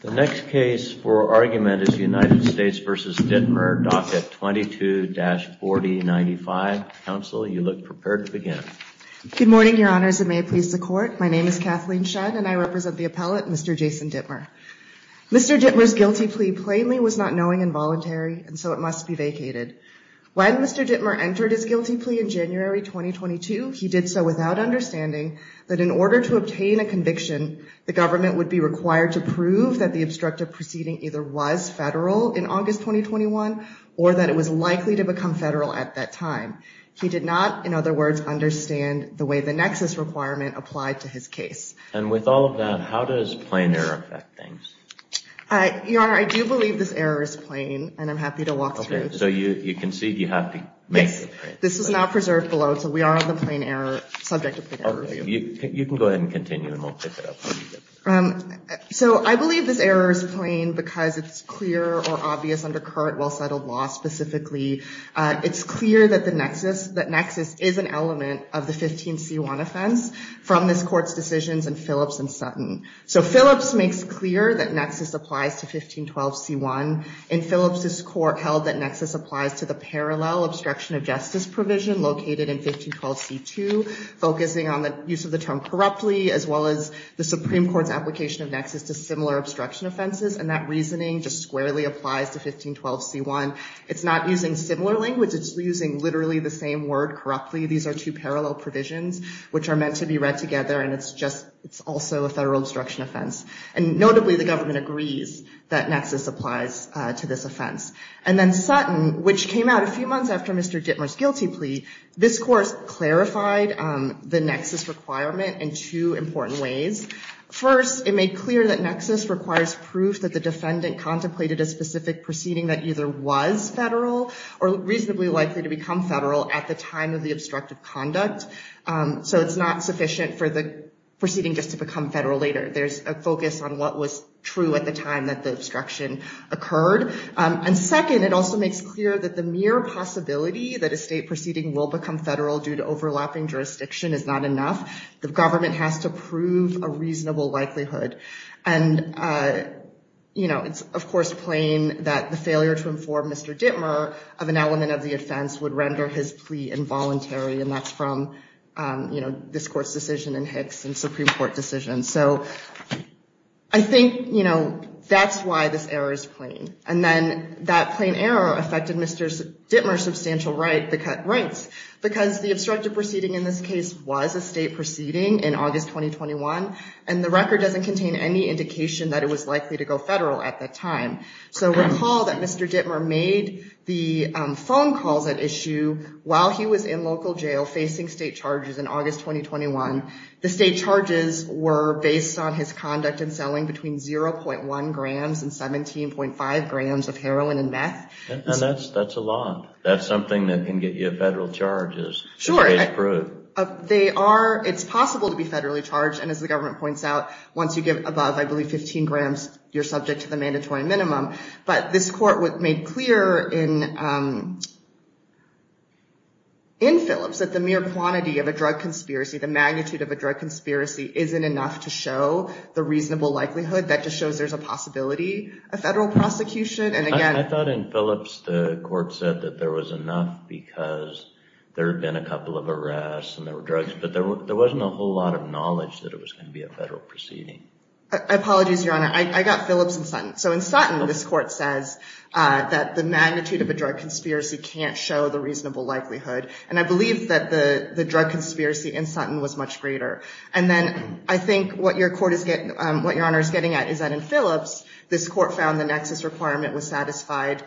The next case for argument is United States v. Dittmer, Docket 22-4095. Counsel, you look prepared to begin. Good morning, Your Honors, and may it please the Court. My name is Kathleen Shudd, and I represent the appellate, Mr. Jason Dittmer. Mr. Dittmer's guilty plea plainly was not knowing and voluntary, and so it must be vacated. When Mr. Dittmer entered his guilty plea in January 2022, he did so without understanding that in order to obtain a conviction, the government would be required to prove that the obstructive proceeding either was federal in August 2021, or that it was likely to become federal at that time. He did not, in other words, understand the way the nexus requirement applied to his case. And with all of that, how does plain error affect things? Your Honor, I do believe this error is plain, and I'm happy to walk through. Okay, so you concede you have to make the claim. This is now preserved below, so we are on the plain error subject. You can go ahead and continue, and we'll pick it up. So I believe this error is plain because it's clear or obvious under current well-settled law specifically. It's clear that the nexus, that nexus is an element of the 15c1 offense from this Court's decisions in Phillips and Sutton. So Phillips makes clear that nexus applies to 1512c1. In Phillips's court held that nexus applies to the parallel obstruction of justice provision located in 1512c2, focusing on the use of the term corruptly, as well as the Supreme Court's application of nexus to similar obstruction offenses. And that reasoning just squarely applies to 1512c1. It's not using similar language. It's using literally the same word, corruptly. These are two parallel provisions which are meant to be read together, and it's just, it's also a federal obstruction offense. And notably, the government agrees that nexus applies to this offense. And then Sutton, which came out a few months after Mr. Dittmer's guilty plea, this course clarified the nexus requirement in two important ways. First, it made clear that nexus requires proof that the defendant contemplated a specific proceeding that either was federal or reasonably likely to become federal at the time of the obstructive conduct. So it's not sufficient for the proceeding just to become federal later. There's a focus on what was true at the time that the obstruction occurred. And second, it also makes clear that the mere possibility that a state proceeding will become federal due to overlapping jurisdiction is not enough. The government has to prove a reasonable likelihood. And it's, of course, plain that the failure to inform Mr. Dittmer of an element of the offense would render his plea involuntary. And that's from this court's decision in Hicks and Supreme Court decisions. So I think that's why this error is plain. And then that plain error affected Mr. Dittmer's substantial rights because the obstructive proceeding in this case was a state proceeding in August 2021. And the record doesn't contain any indication that it was likely to go federal at that time. So recall that Mr. Dittmer made the phone calls at issue while he was in local jail facing state charges in August 2021. The state charges were based on his conduct in selling between 0.1 grams and 17.5 grams of heroin and meth. And that's a lot. That's something that can get you federal charges. Sure. It's possible to be federally charged. And as the government points out, once you get above, I believe, 15 grams, you're subject to the mandatory minimum. But this court made clear in Phillips that the mere quantity of a drug conspiracy, the magnitude of a drug conspiracy, isn't enough to show the reasonable likelihood. That just shows there's a possibility of federal prosecution. And again, I thought in Phillips, the court said that there was enough because there had been a couple of arrests and there were drugs. But there wasn't a whole lot of knowledge that it was going to be a federal proceeding. I apologize, Your Honor. I got Phillips and Sutton. So in Sutton, this court says that the magnitude of a drug conspiracy can't show the reasonable likelihood. And I believe that the drug conspiracy in Sutton was much greater. And then I think what Your Honor is getting at is that in Phillips, this court found the nexus requirement was satisfied,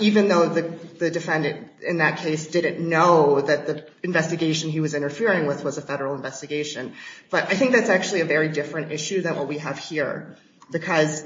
even though the defendant in that case didn't know that the investigation he was interfering with was a federal investigation. But I think that's actually a very different issue than what we have here. Because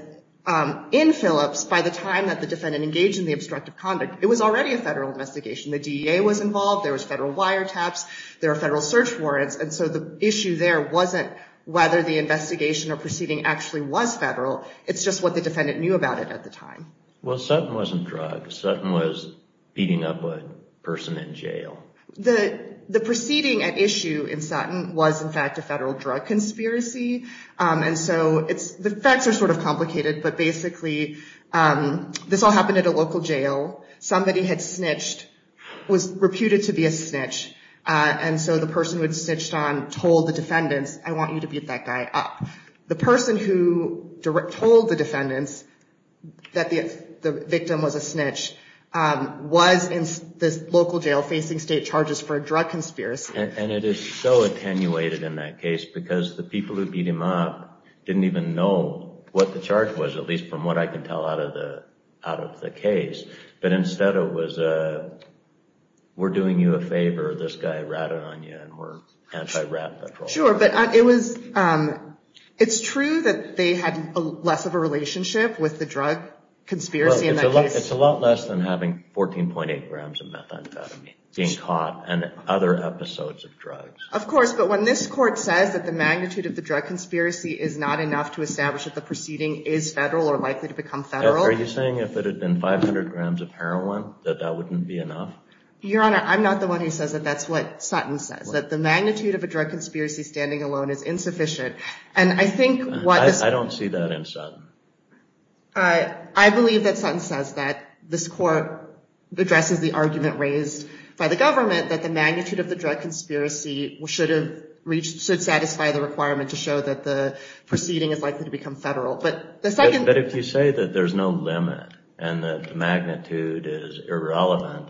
in Phillips, by the time that the defendant engaged in the obstructive conduct, it was already a federal investigation. The DEA was involved. There was federal wiretaps. There are federal search warrants. And so the issue there wasn't whether the investigation or proceeding actually was federal. It's just what the defendant knew about it at the time. Well, Sutton wasn't drugged. Sutton was beating up a person in jail. The proceeding at issue in Sutton was, in fact, a federal drug conspiracy. And so the facts are sort of complicated. But basically, this all happened at a local jail. Somebody had snitched, was reputed to be a snitch. And so the person who had snitched on told the defendants, I want you to beat that guy up. The person who told the defendants that the victim was a snitch was in this local jail facing state charges for a drug conspiracy. And it is so attenuated in that case, because the people who beat him up didn't even know what the charge was, at least from what I can tell out of the case. But instead, it was, we're doing you a favor. This guy ratted on you, and we're anti-rat patrol. Sure, but it's true that they had less of a relationship with the drug conspiracy in that case. It's a lot less than having 14.8 grams of methamphetamine being caught and other episodes of drugs. Of course, but when this court says that the magnitude of the drug conspiracy is not enough to establish that the proceeding is federal or likely to become federal. Are you saying if it had been 500 grams of heroin, that that wouldn't be enough? Your Honor, I'm not the one who says that. That's what Sutton says, that the magnitude of a drug conspiracy standing alone is insufficient. And I think what... I don't see that in Sutton. I believe that Sutton says that this court addresses the argument raised by the government that the magnitude of the drug conspiracy should satisfy the requirement to show that the proceeding is likely to become federal. But if you say that there's no limit and that the magnitude is irrelevant,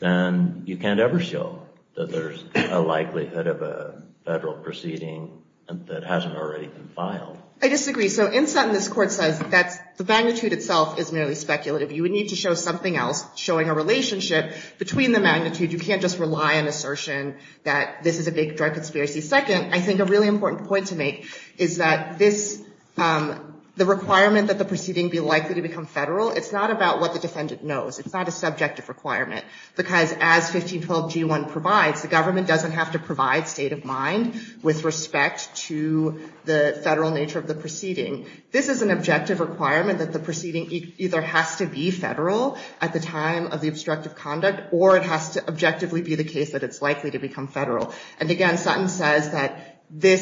then you can't ever show that there's a likelihood of a federal proceeding that hasn't already been filed. I disagree. So in Sutton, this court says that the magnitude itself is merely speculative. You would need to show something else showing a relationship between the magnitude. You can't just rely on assertion that this is a big drug conspiracy. Second, I think a really important point to make is that the requirement that the proceeding be likely to become federal, it's not about what the defendant knows. It's not a subjective requirement. Because as 1512g1 provides, the government doesn't have to provide state of mind with respect to the federal nature of the proceeding. This is an objective requirement that the proceeding either has to be federal at the time of the obstructive conduct, or it has to objectively be the case that it's likely to become federal. And again, Sutton says that the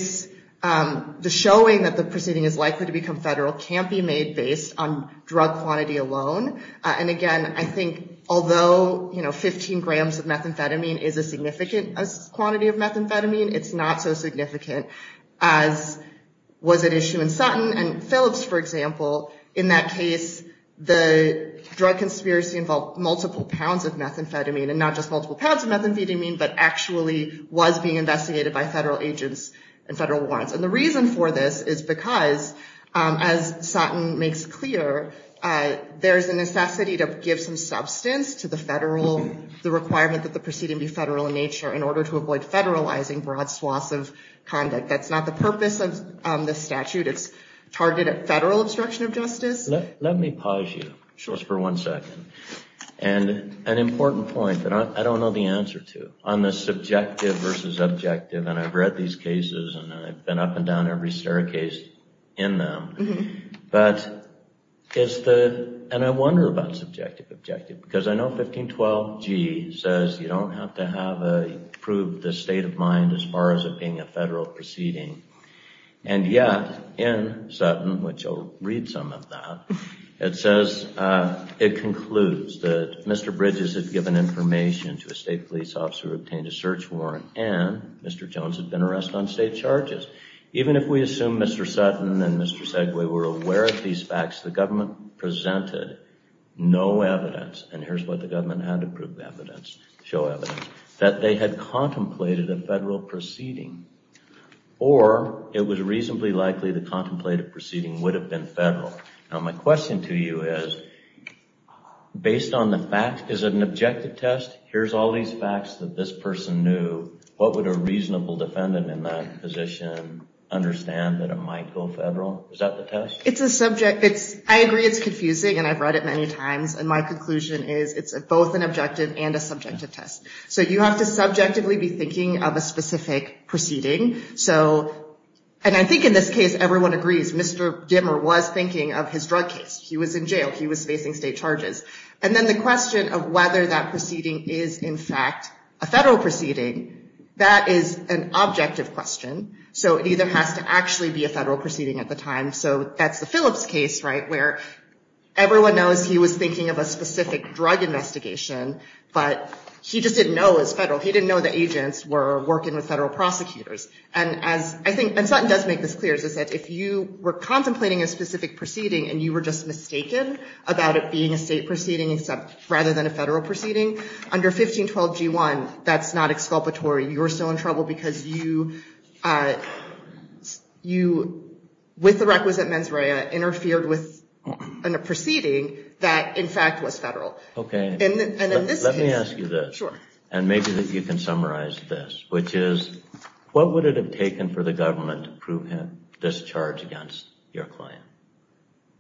showing that the proceeding is likely to become federal can't be made based on drug quantity alone. And again, I think although 15g of methamphetamine is a significant quantity of methamphetamine, it's not so significant as was at issue in Sutton. And Phillips, for example, in that case, the drug conspiracy involved multiple pounds of was being investigated by federal agents and federal warrants. And the reason for this is because, as Sutton makes clear, there is a necessity to give some substance to the requirement that the proceeding be federal in nature in order to avoid federalizing broad swaths of conduct. That's not the purpose of the statute. It's targeted at federal obstruction of justice. Let me pause you just for one second. And an important point that I don't know the answer to on the subjective versus objective. And I've read these cases, and I've been up and down every staircase in them. But it's the, and I wonder about subjective objective, because I know 1512g says you don't have to have a prove the state of mind as far as it being a federal proceeding. And yet, in Sutton, which I'll read some of that, it says, it concludes that Mr. Bridges had given information to a state police officer who obtained a search warrant and Mr. Jones had been arrested on state charges. Even if we assume Mr. Sutton and Mr. Segway were aware of these facts, the government presented no evidence, and here's what the government had to prove evidence, show evidence, that they had contemplated a federal proceeding. Or it was reasonably likely the contemplated proceeding would have been federal. Now my question to you is, based on the fact, is it an objective test? Here's all these facts that this person knew, what would a reasonable defendant in that position understand that it might go federal? Is that the test? It's a subject, it's, I agree it's confusing, and I've read it many times, and my conclusion is it's both an objective and a subjective test. So you have to subjectively be thinking of a specific proceeding. And I think in this case, everyone agrees, Mr. Dimmer was thinking of his drug case. He was in jail, he was facing state charges. And then the question of whether that proceeding is, in fact, a federal proceeding, that is an objective question. So it either has to actually be a federal proceeding at the time, so that's the Phillips case, right, where everyone knows he was thinking of a specific drug investigation, but he just didn't know it was federal. He didn't know the agents were working with federal prosecutors. And Sutton does make this clear, is that if you were contemplating a specific proceeding and you were just mistaken about it being a state proceeding, rather than a federal proceeding, under 1512 G1, that's not exculpatory. You're still in trouble because you, with the requisite mens rea, interfered with a proceeding that, in fact, was federal. OK, let me ask you this. And maybe that you can summarize this, which is, what would it have taken for the government to prove him discharge against your client?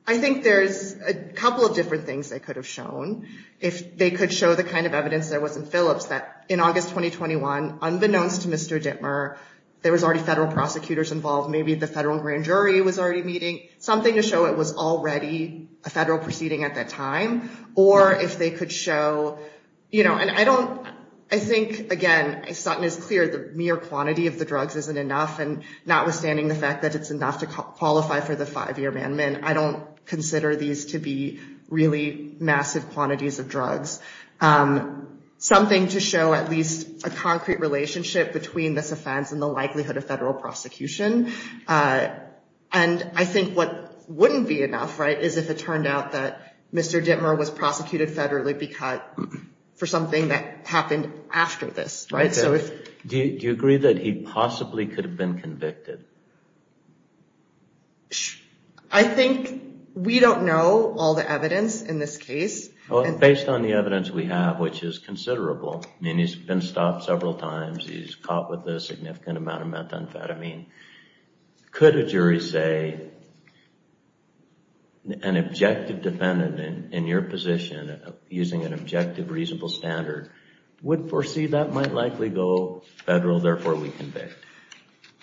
I think there's a couple of different things they could have shown. If they could show the kind of evidence there was in Phillips that, in August 2021, unbeknownst to Mr. Dimmer, there was already federal prosecutors involved. Maybe the federal grand jury was already meeting. Something to show it was already a federal proceeding at that time. Or if they could show, you know, and I don't, I think, again, Sutton is clear, the mere quantity of the drugs isn't enough. And notwithstanding the fact that it's enough to qualify for the five-year amendment, I don't consider these to be really massive quantities of drugs. Something to show at least a concrete relationship between this offense and the likelihood of federal prosecution. And I think what wouldn't be enough, right, is if it turned out that Mr. Dimmer was prosecuted federally for something that happened after this, right? Do you agree that he possibly could have been convicted? I think we don't know all the evidence in this case. Well, based on the evidence we have, which is considerable, I mean, he's been stopped several times, he's caught with a significant amount of methamphetamine. Could a jury say an objective defendant in your position, using an objective reasonable standard, would foresee that might likely go federal, therefore we convict?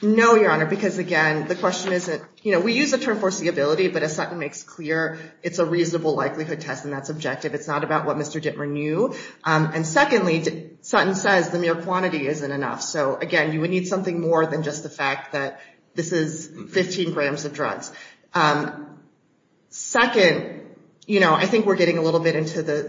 No, Your Honor, because again, the question isn't, you know, we use the term foreseeability, but as Sutton makes clear, it's a reasonable likelihood test and that's objective. It's not about what Mr. Dimmer knew. And secondly, Sutton says the mere quantity isn't enough. So again, you would need something more than just the fact that this is 15 grams of drugs. Second, you know, I think we're getting a little bit into the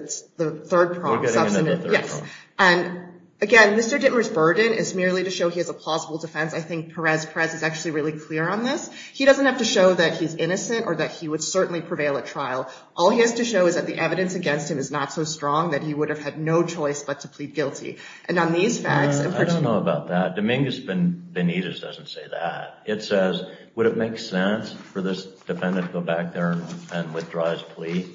third problem. And again, Mr. Dimmer's burden is merely to show he has a plausible defense. I think Perez Perez is actually really clear on this. He doesn't have to show that he's innocent or that he would certainly prevail at trial. All he has to show is that the evidence against him is not so strong that he would have had no choice but to plead guilty. And on these facts, in particular- I don't know about that. Dominguez Benitez doesn't say that. It says, would it make sense for this defendant to go back there and withdraw his plea?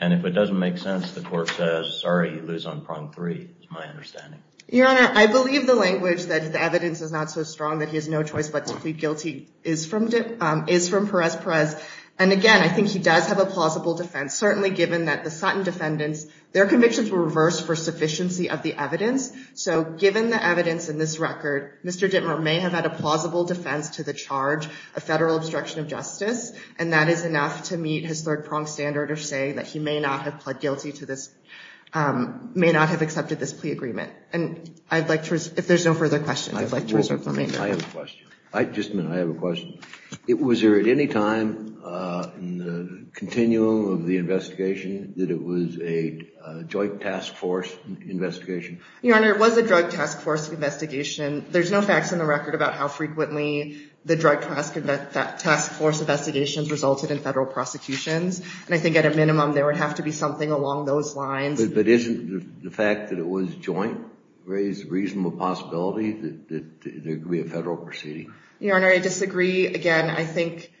And if it doesn't make sense, the court says, sorry, you lose on prong three, is my understanding. Your Honor, I believe the language that the evidence is not so strong that he has no choice but to plead guilty is from Perez Perez. And again, I think he does have a plausible defense, certainly given that the Sutton defendants, their convictions were reversed for sufficiency of the evidence. So given the evidence in this record, Mr. Dimmer may have had a plausible defense to the charge of federal obstruction of justice, and that is enough to meet his third prong standard of saying that he may not have pled guilty to this, may not have accepted this plea agreement. And I'd like to, if there's no further questions, I'd like to reserve the remainder. I have a question. Just a minute, I have a question. Was there at any time in the continuum of the investigation that it was a joint task force investigation? Your Honor, it was a drug task force investigation. There's no facts in the record about how frequently the drug task force investigations resulted in federal prosecutions. And I think at a minimum, there would have to be something along those lines. But isn't the fact that it was joint raise a reasonable possibility that there could be a federal proceeding? Your Honor, I disagree. Again, I think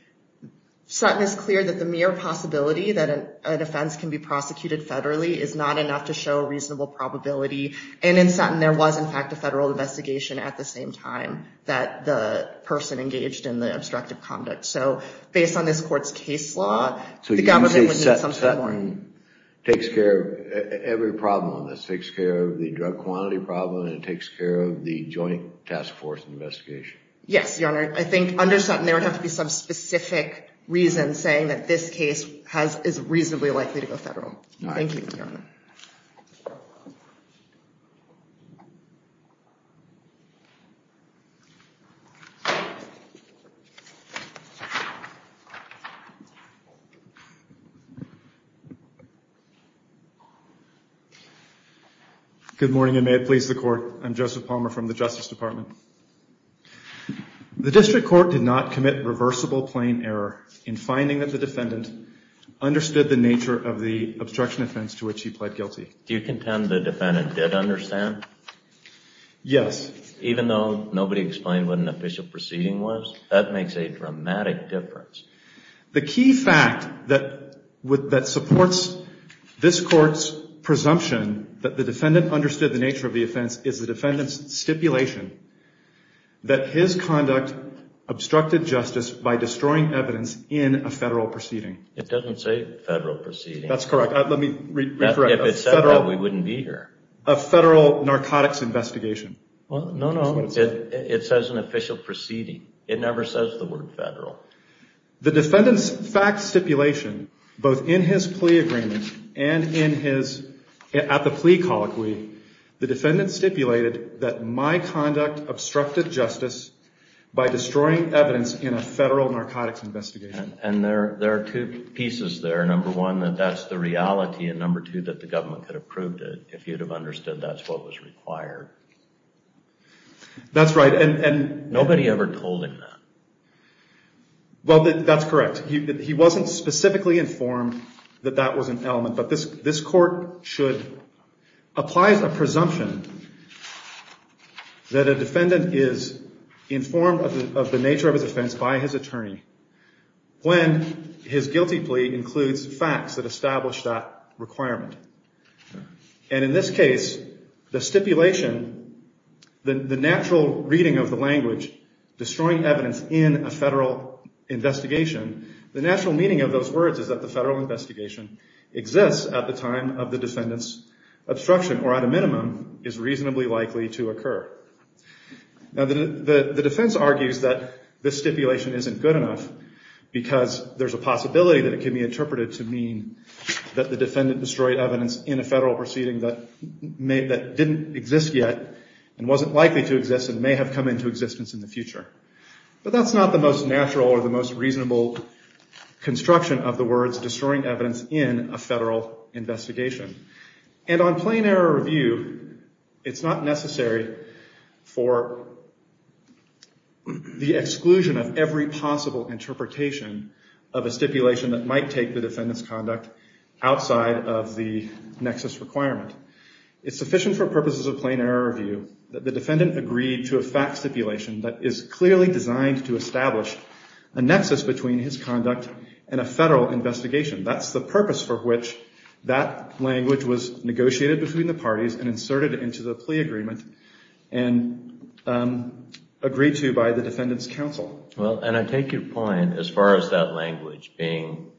Sutton is clear that the mere possibility that an offense can be prosecuted federally is not enough to show a reasonable probability. And in Sutton, there was, in fact, a federal investigation at the same time that the person engaged in the obstructive conduct. So based on this court's case law, the government would need something more. So you're saying Sutton takes care of every problem on this, takes care of the drug quantity problem, and it takes care of the joint task force investigation? Yes, Your Honor. I think under Sutton, there would have to be some specific reason saying that this case is reasonably likely to go federal. Thank you, Your Honor. Good morning, and may it please the Court. I'm Joseph Palmer from the Justice Department. The district court did not commit reversible plain error in finding that the defendant understood the nature of the obstruction offense to which he pled guilty. Do you contend the defendant did understand? Yes. Even though nobody explained what an official proceeding was? That makes a dramatic difference. The key fact that supports this court's presumption that the defendant understood the nature of the offense is the defendant's stipulation that his conduct obstructed justice by destroying evidence in a federal proceeding. It doesn't say federal proceeding. That's correct. Let me re-correct. If it said that, we wouldn't be here. A federal narcotics investigation. Well, no, no. It says an official proceeding. It never says the word federal. The defendant's fact stipulation, both in his plea agreement and at the plea colloquy, the defendant stipulated that my conduct obstructed justice by destroying evidence in a federal narcotics investigation. And there are two pieces there. Number one, that that's the reality. And number two, that the government could have proved it if you'd have understood that's what was required. That's right. And nobody ever told him that. Well, that's correct. He wasn't specifically informed that that was an element. This court applies a presumption that a defendant is informed of the nature of his offense by his attorney when his guilty plea includes facts that establish that requirement. And in this case, the stipulation, the natural reading of the language, destroying evidence in a federal investigation, the natural meaning of those words is that the federal investigation exists at the time of the defendant's obstruction or at a minimum is reasonably likely to occur. Now, the defense argues that this stipulation isn't good enough because there's a possibility that it can be interpreted to mean that the defendant destroyed evidence in a federal proceeding that didn't exist yet and wasn't likely to exist and may have come into existence in the future. But that's not the most natural or the most reasonable construction of the words destroying evidence in a federal investigation. And on plain error review, it's not necessary for the exclusion of every possible interpretation of a stipulation that might take the defendant's conduct outside of the nexus requirement. It's sufficient for purposes of plain error review that the defendant agreed to a fact stipulation that is clearly designed to establish a nexus between his conduct and a federal investigation. That's the purpose for which that language was negotiated between the parties and inserted into the plea agreement and agreed to by the defendant's counsel. Well, and I take your point as far as that language being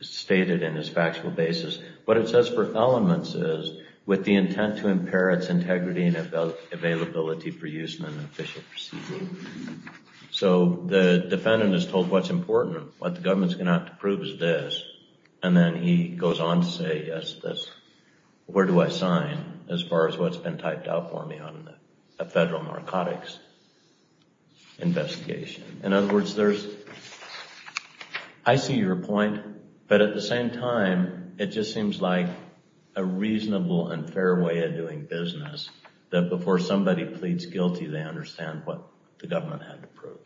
stated in this factual basis. What it says for elements is with the intent to impair its integrity and availability for use in an official proceeding. So the defendant is told what's important, what the government's going to have to prove is this. And then he goes on to say, yes, that's where do I sign as far as what's been typed out for me on a federal narcotics investigation. In other words, I see your point. But at the same time, it just seems like a reasonable and fair way of doing business that before somebody pleads guilty, they understand what the government had to prove.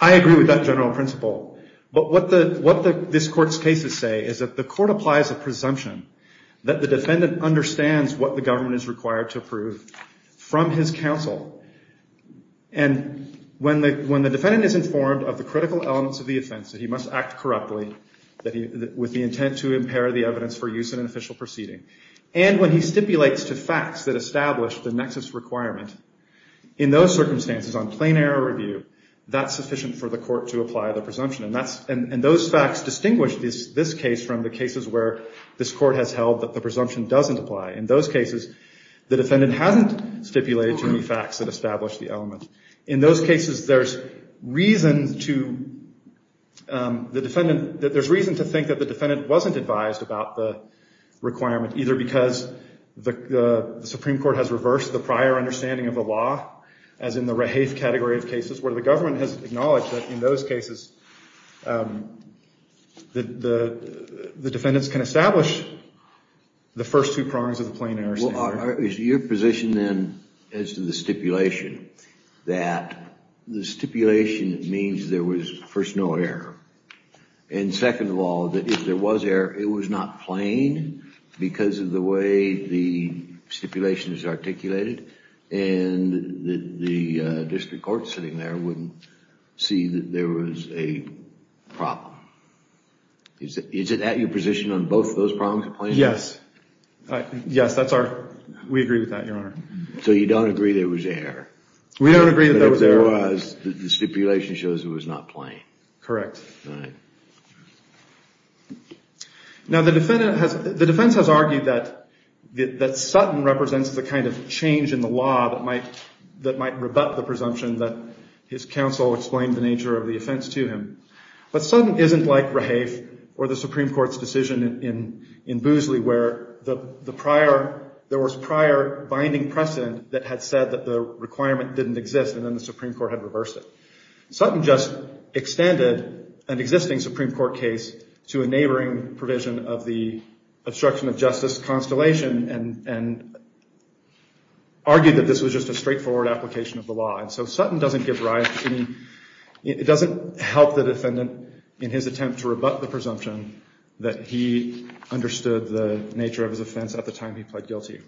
I agree with that general principle. But what this court's cases say is that the court applies a presumption that the defendant understands what the government is required to prove from his counsel. And when the defendant is informed of the critical elements of the offense, that he must act correctly with the intent to impair the evidence for use in an official proceeding, and when he stipulates to facts that establish the nexus requirement, in those circumstances on plain error review, that's sufficient for the court to apply the presumption. And those facts distinguish this case from the cases where this court has held that the presumption doesn't apply. In those cases, the defendant hasn't stipulated to any facts that establish the element. In those cases, there's reason to think that the defendant wasn't advised about the requirement, either because the Supreme Court has reversed the prior understanding of the category of cases, where the government has acknowledged that in those cases, the defendants can establish the first two prongs of the plain error standard. Is your position then, as to the stipulation, that the stipulation means there was first no error, and second of all, that if there was error, it was not plain because of the way the stipulation is articulated, and the district court sitting there wouldn't see that there was a problem? Is it at your position on both of those prongs of plain error? Yes. Yes, that's our, we agree with that, Your Honor. So you don't agree there was error? We don't agree that there was error. But if there was, the stipulation shows it was not plain. Correct. All right. Now, the defense has argued that Sutton represents the kind of change in the law that might rebut the presumption that his counsel explained the nature of the offense to him. But Sutton isn't like Rahafe or the Supreme Court's decision in Boosley, where there was prior binding precedent that had said that the requirement didn't exist, and then the Supreme Court had reversed it. Sutton just extended an existing Supreme Court case to a neighboring provision of the obstruction of justice constellation, and argued that this was just a straightforward application of the law. And so Sutton doesn't give rise, it doesn't help the defendant in his attempt to rebut the presumption that he understood the nature of his offense at the time he pled guilty.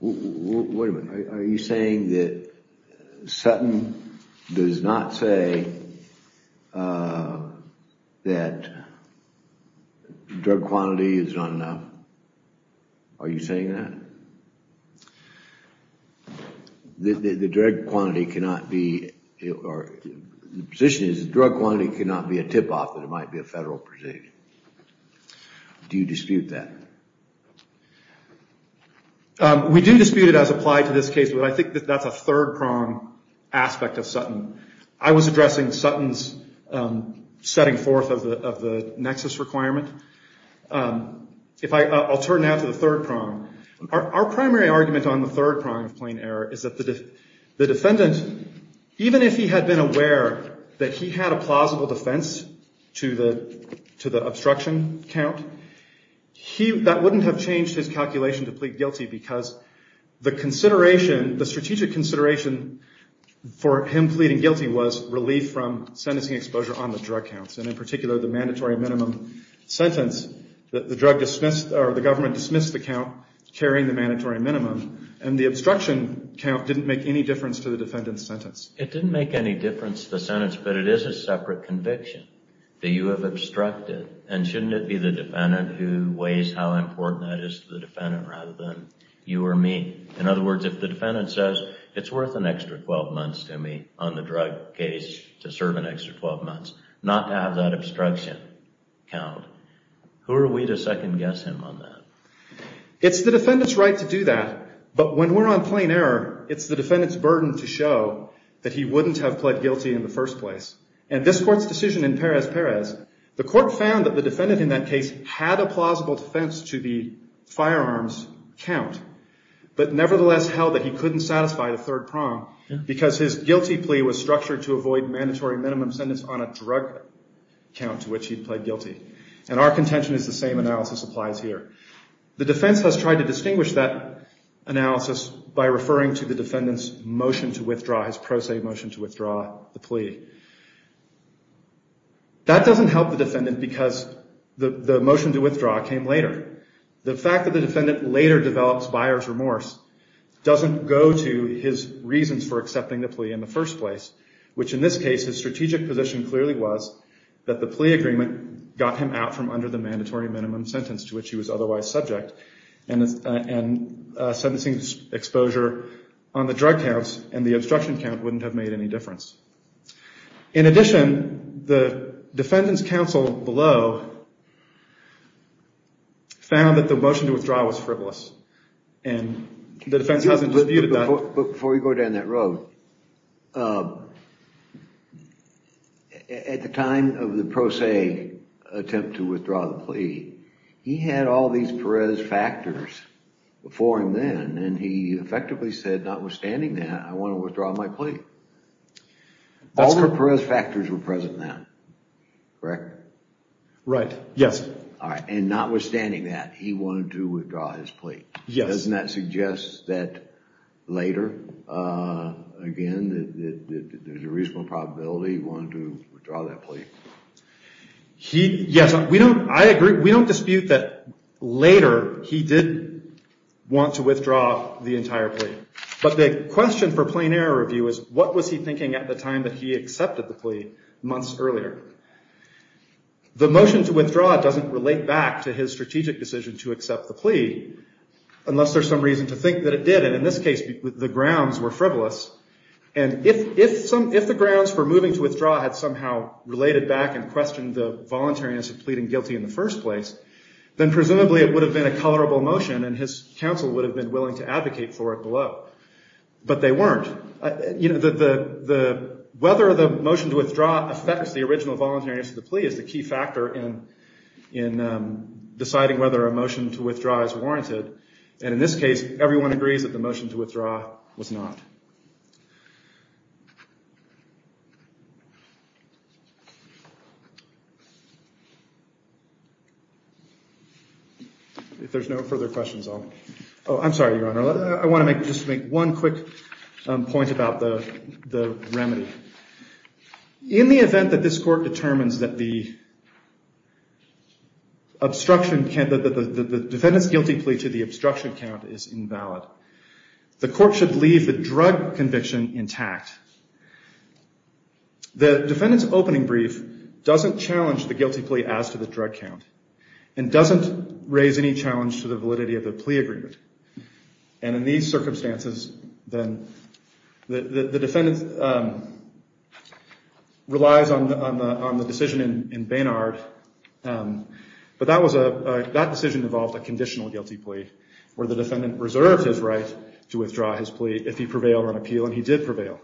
Wait a minute. Are you saying that Sutton does not say that drug quantity is not enough? Are you saying that? The drug quantity cannot be, or the position is the drug quantity cannot be a tip-off that it might be a federal presumption. Do you dispute that? We do dispute it as applied to this case, but I think that that's a third prong aspect of Sutton. I was addressing Sutton's setting forth of the nexus requirement. I'll turn now to the third prong. Our primary argument on the third prong of plain error is that the defendant, even if he had been aware that he had a plausible defense to the obstruction count, that wouldn't have changed his calculation to plead guilty because the strategic consideration for him pleading guilty was relief from sentencing exposure on the drug counts, and in particular the mandatory minimum sentence that the drug dismissed, or the government dismissed the count carrying the mandatory minimum. And the obstruction count didn't make any difference to the defendant's sentence. It didn't make any difference to the sentence, but it is a separate conviction that you that is to the defendant rather than you or me. In other words, if the defendant says, it's worth an extra 12 months to me on the drug case to serve an extra 12 months, not to have that obstruction count, who are we to second guess him on that? It's the defendant's right to do that, but when we're on plain error, it's the defendant's burden to show that he wouldn't have pled guilty in the first place. And this court's decision in Perez-Perez, the court found that the defendant in that had a plausible defense to the firearms count, but nevertheless held that he couldn't satisfy the third prong because his guilty plea was structured to avoid mandatory minimum sentence on a drug count to which he pled guilty. And our contention is the same analysis applies here. The defense has tried to distinguish that analysis by referring to the defendant's motion to withdraw his plea. That doesn't help the defendant because the motion to withdraw came later. The fact that the defendant later develops buyer's remorse doesn't go to his reasons for accepting the plea in the first place, which in this case, his strategic position clearly was that the plea agreement got him out from under the mandatory minimum sentence to which he was otherwise subject, and sentencing exposure on the drug counts and the obstruction count wouldn't have made any difference. In addition, the defendant's counsel below found that the motion to withdraw was frivolous and the defense hasn't disputed that. Before we go down that road, at the time of the pro se attempt to withdraw the plea, he had all these Perez factors before him then, and he effectively said, notwithstanding that, I want to withdraw my plea. All the Perez factors were present then, correct? Right. Yes. All right. And notwithstanding that, he wanted to withdraw his plea. Yes. Doesn't that suggest that later, again, that there's a reasonable probability he wanted to withdraw that plea? Yes, I agree. We don't dispute that later he did want to withdraw the entire plea. But the question for plain error review is, what was he thinking at the time that he accepted the plea months earlier? The motion to withdraw doesn't relate back to his strategic decision to accept the plea, unless there's some reason to think that it did. And in this case, the grounds were frivolous. And if the grounds for moving to withdraw had somehow related back and questioned the voluntariness of pleading guilty in the first place, then presumably it would have been a tolerable motion, and his counsel would have been willing to advocate for it below. But they weren't. Whether the motion to withdraw affects the original voluntariness of the plea is the key factor in deciding whether a motion to withdraw is warranted. And in this case, everyone agrees that the motion to withdraw was not. If there's no further questions, I'll. Oh, I'm sorry, Your Honor. I want to just make one quick point about the remedy. In the event that this court determines that the defendant's guilty plea to the obstruction count is invalid, the court should leave the drug-related plea to the defendant. The defendant's opening brief doesn't challenge the guilty plea as to the drug count, and doesn't raise any challenge to the validity of the plea agreement. And in these circumstances, then the defendant relies on the decision in Baynard. But that decision involved a conditional guilty plea, where the defendant reserved his right to withdraw his plea if he prevailed on appeal, and he did prevail.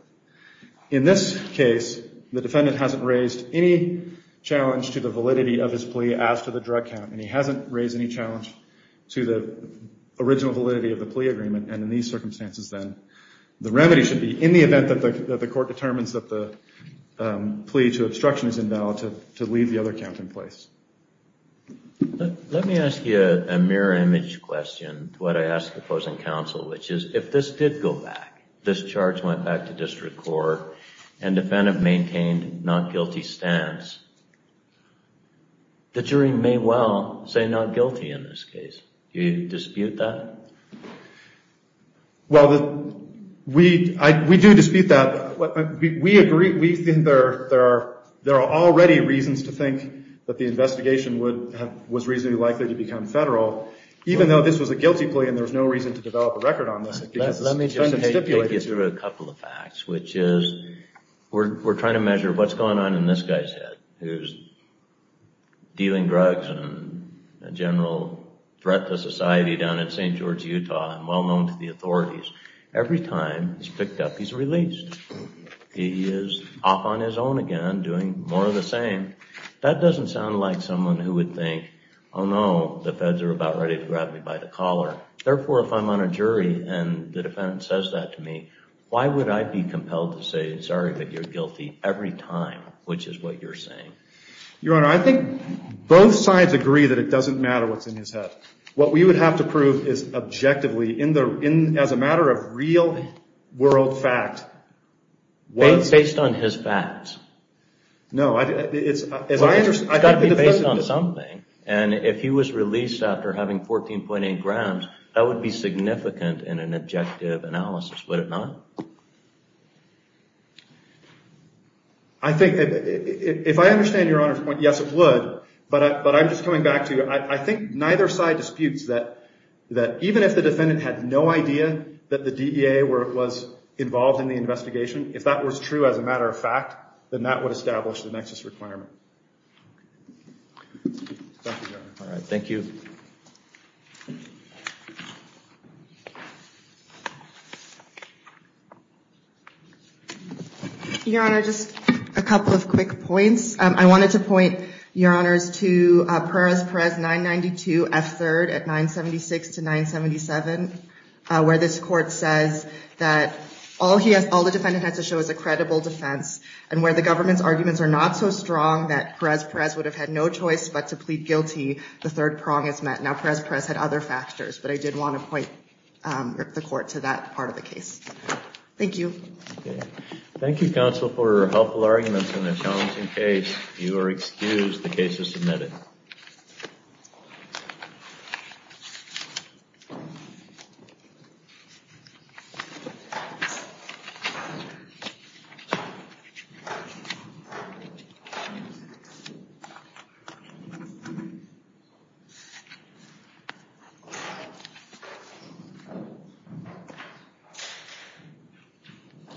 In this case, the defendant hasn't raised any challenge to the validity of his plea as to the drug count, and he hasn't raised any challenge to the original validity of the plea agreement. And in these circumstances, then, the remedy should be in the event that the court determines that the plea to obstruction is invalid, to leave the other count in place. Let me ask you a mirror image question. What I ask the opposing counsel, which is, if this did go back, this charge went back to district court, and defendant maintained not guilty stance, the jury may well say not guilty in this case. Do you dispute that? Well, we do dispute that. We agree. We think there are already reasons to think that the investigation was reasonably likely to become federal. Even though this was a guilty plea, and there was no reason to develop a record on this. Let me just take you through a couple of facts, which is, we're trying to measure what's going on in this guy's head, who's dealing drugs and a general threat to society down in St. George, Utah, and well-known to the authorities. Every time he's picked up, he's released. He is off on his own again, doing more of the same. That doesn't sound like someone who would think, oh, no, the feds are about ready to grab me by the collar. Therefore, if I'm on a jury, and the defendant says that to me, why would I be compelled to say, sorry, but you're guilty every time, which is what you're saying? Your Honor, I think both sides agree that it doesn't matter what's in his head. What we would have to prove is objectively, as a matter of real world fact. Based on his facts. No, it's got to be based on something. And if he was released after having 14.8 grams, that would be significant in an objective analysis, would it not? I think, if I understand your Honor's point, yes, it would. But I'm just coming back to, I think neither side disputes that, even if the defendant had no idea that the DEA was involved in the investigation, if that was true, as a matter of fact, then that would establish the nexus requirement. Thank you, Your Honor. All right, thank you. Your Honor, just a couple of quick points. I wanted to point, Your Honors, to Perez-Perez 992 F3rd at 976 to 977, where this court says that all the defendant has to show is a credible defense, and where the government's arguments are not so strong that Perez-Perez would have had no choice but to plead guilty, the third prong is met. Now Perez-Perez had other factors, but I did want to point the court to that part of the case. Thank you. Thank you, counsel, for your helpful arguments in a challenging case. You are excused. The case is submitted. Thank you.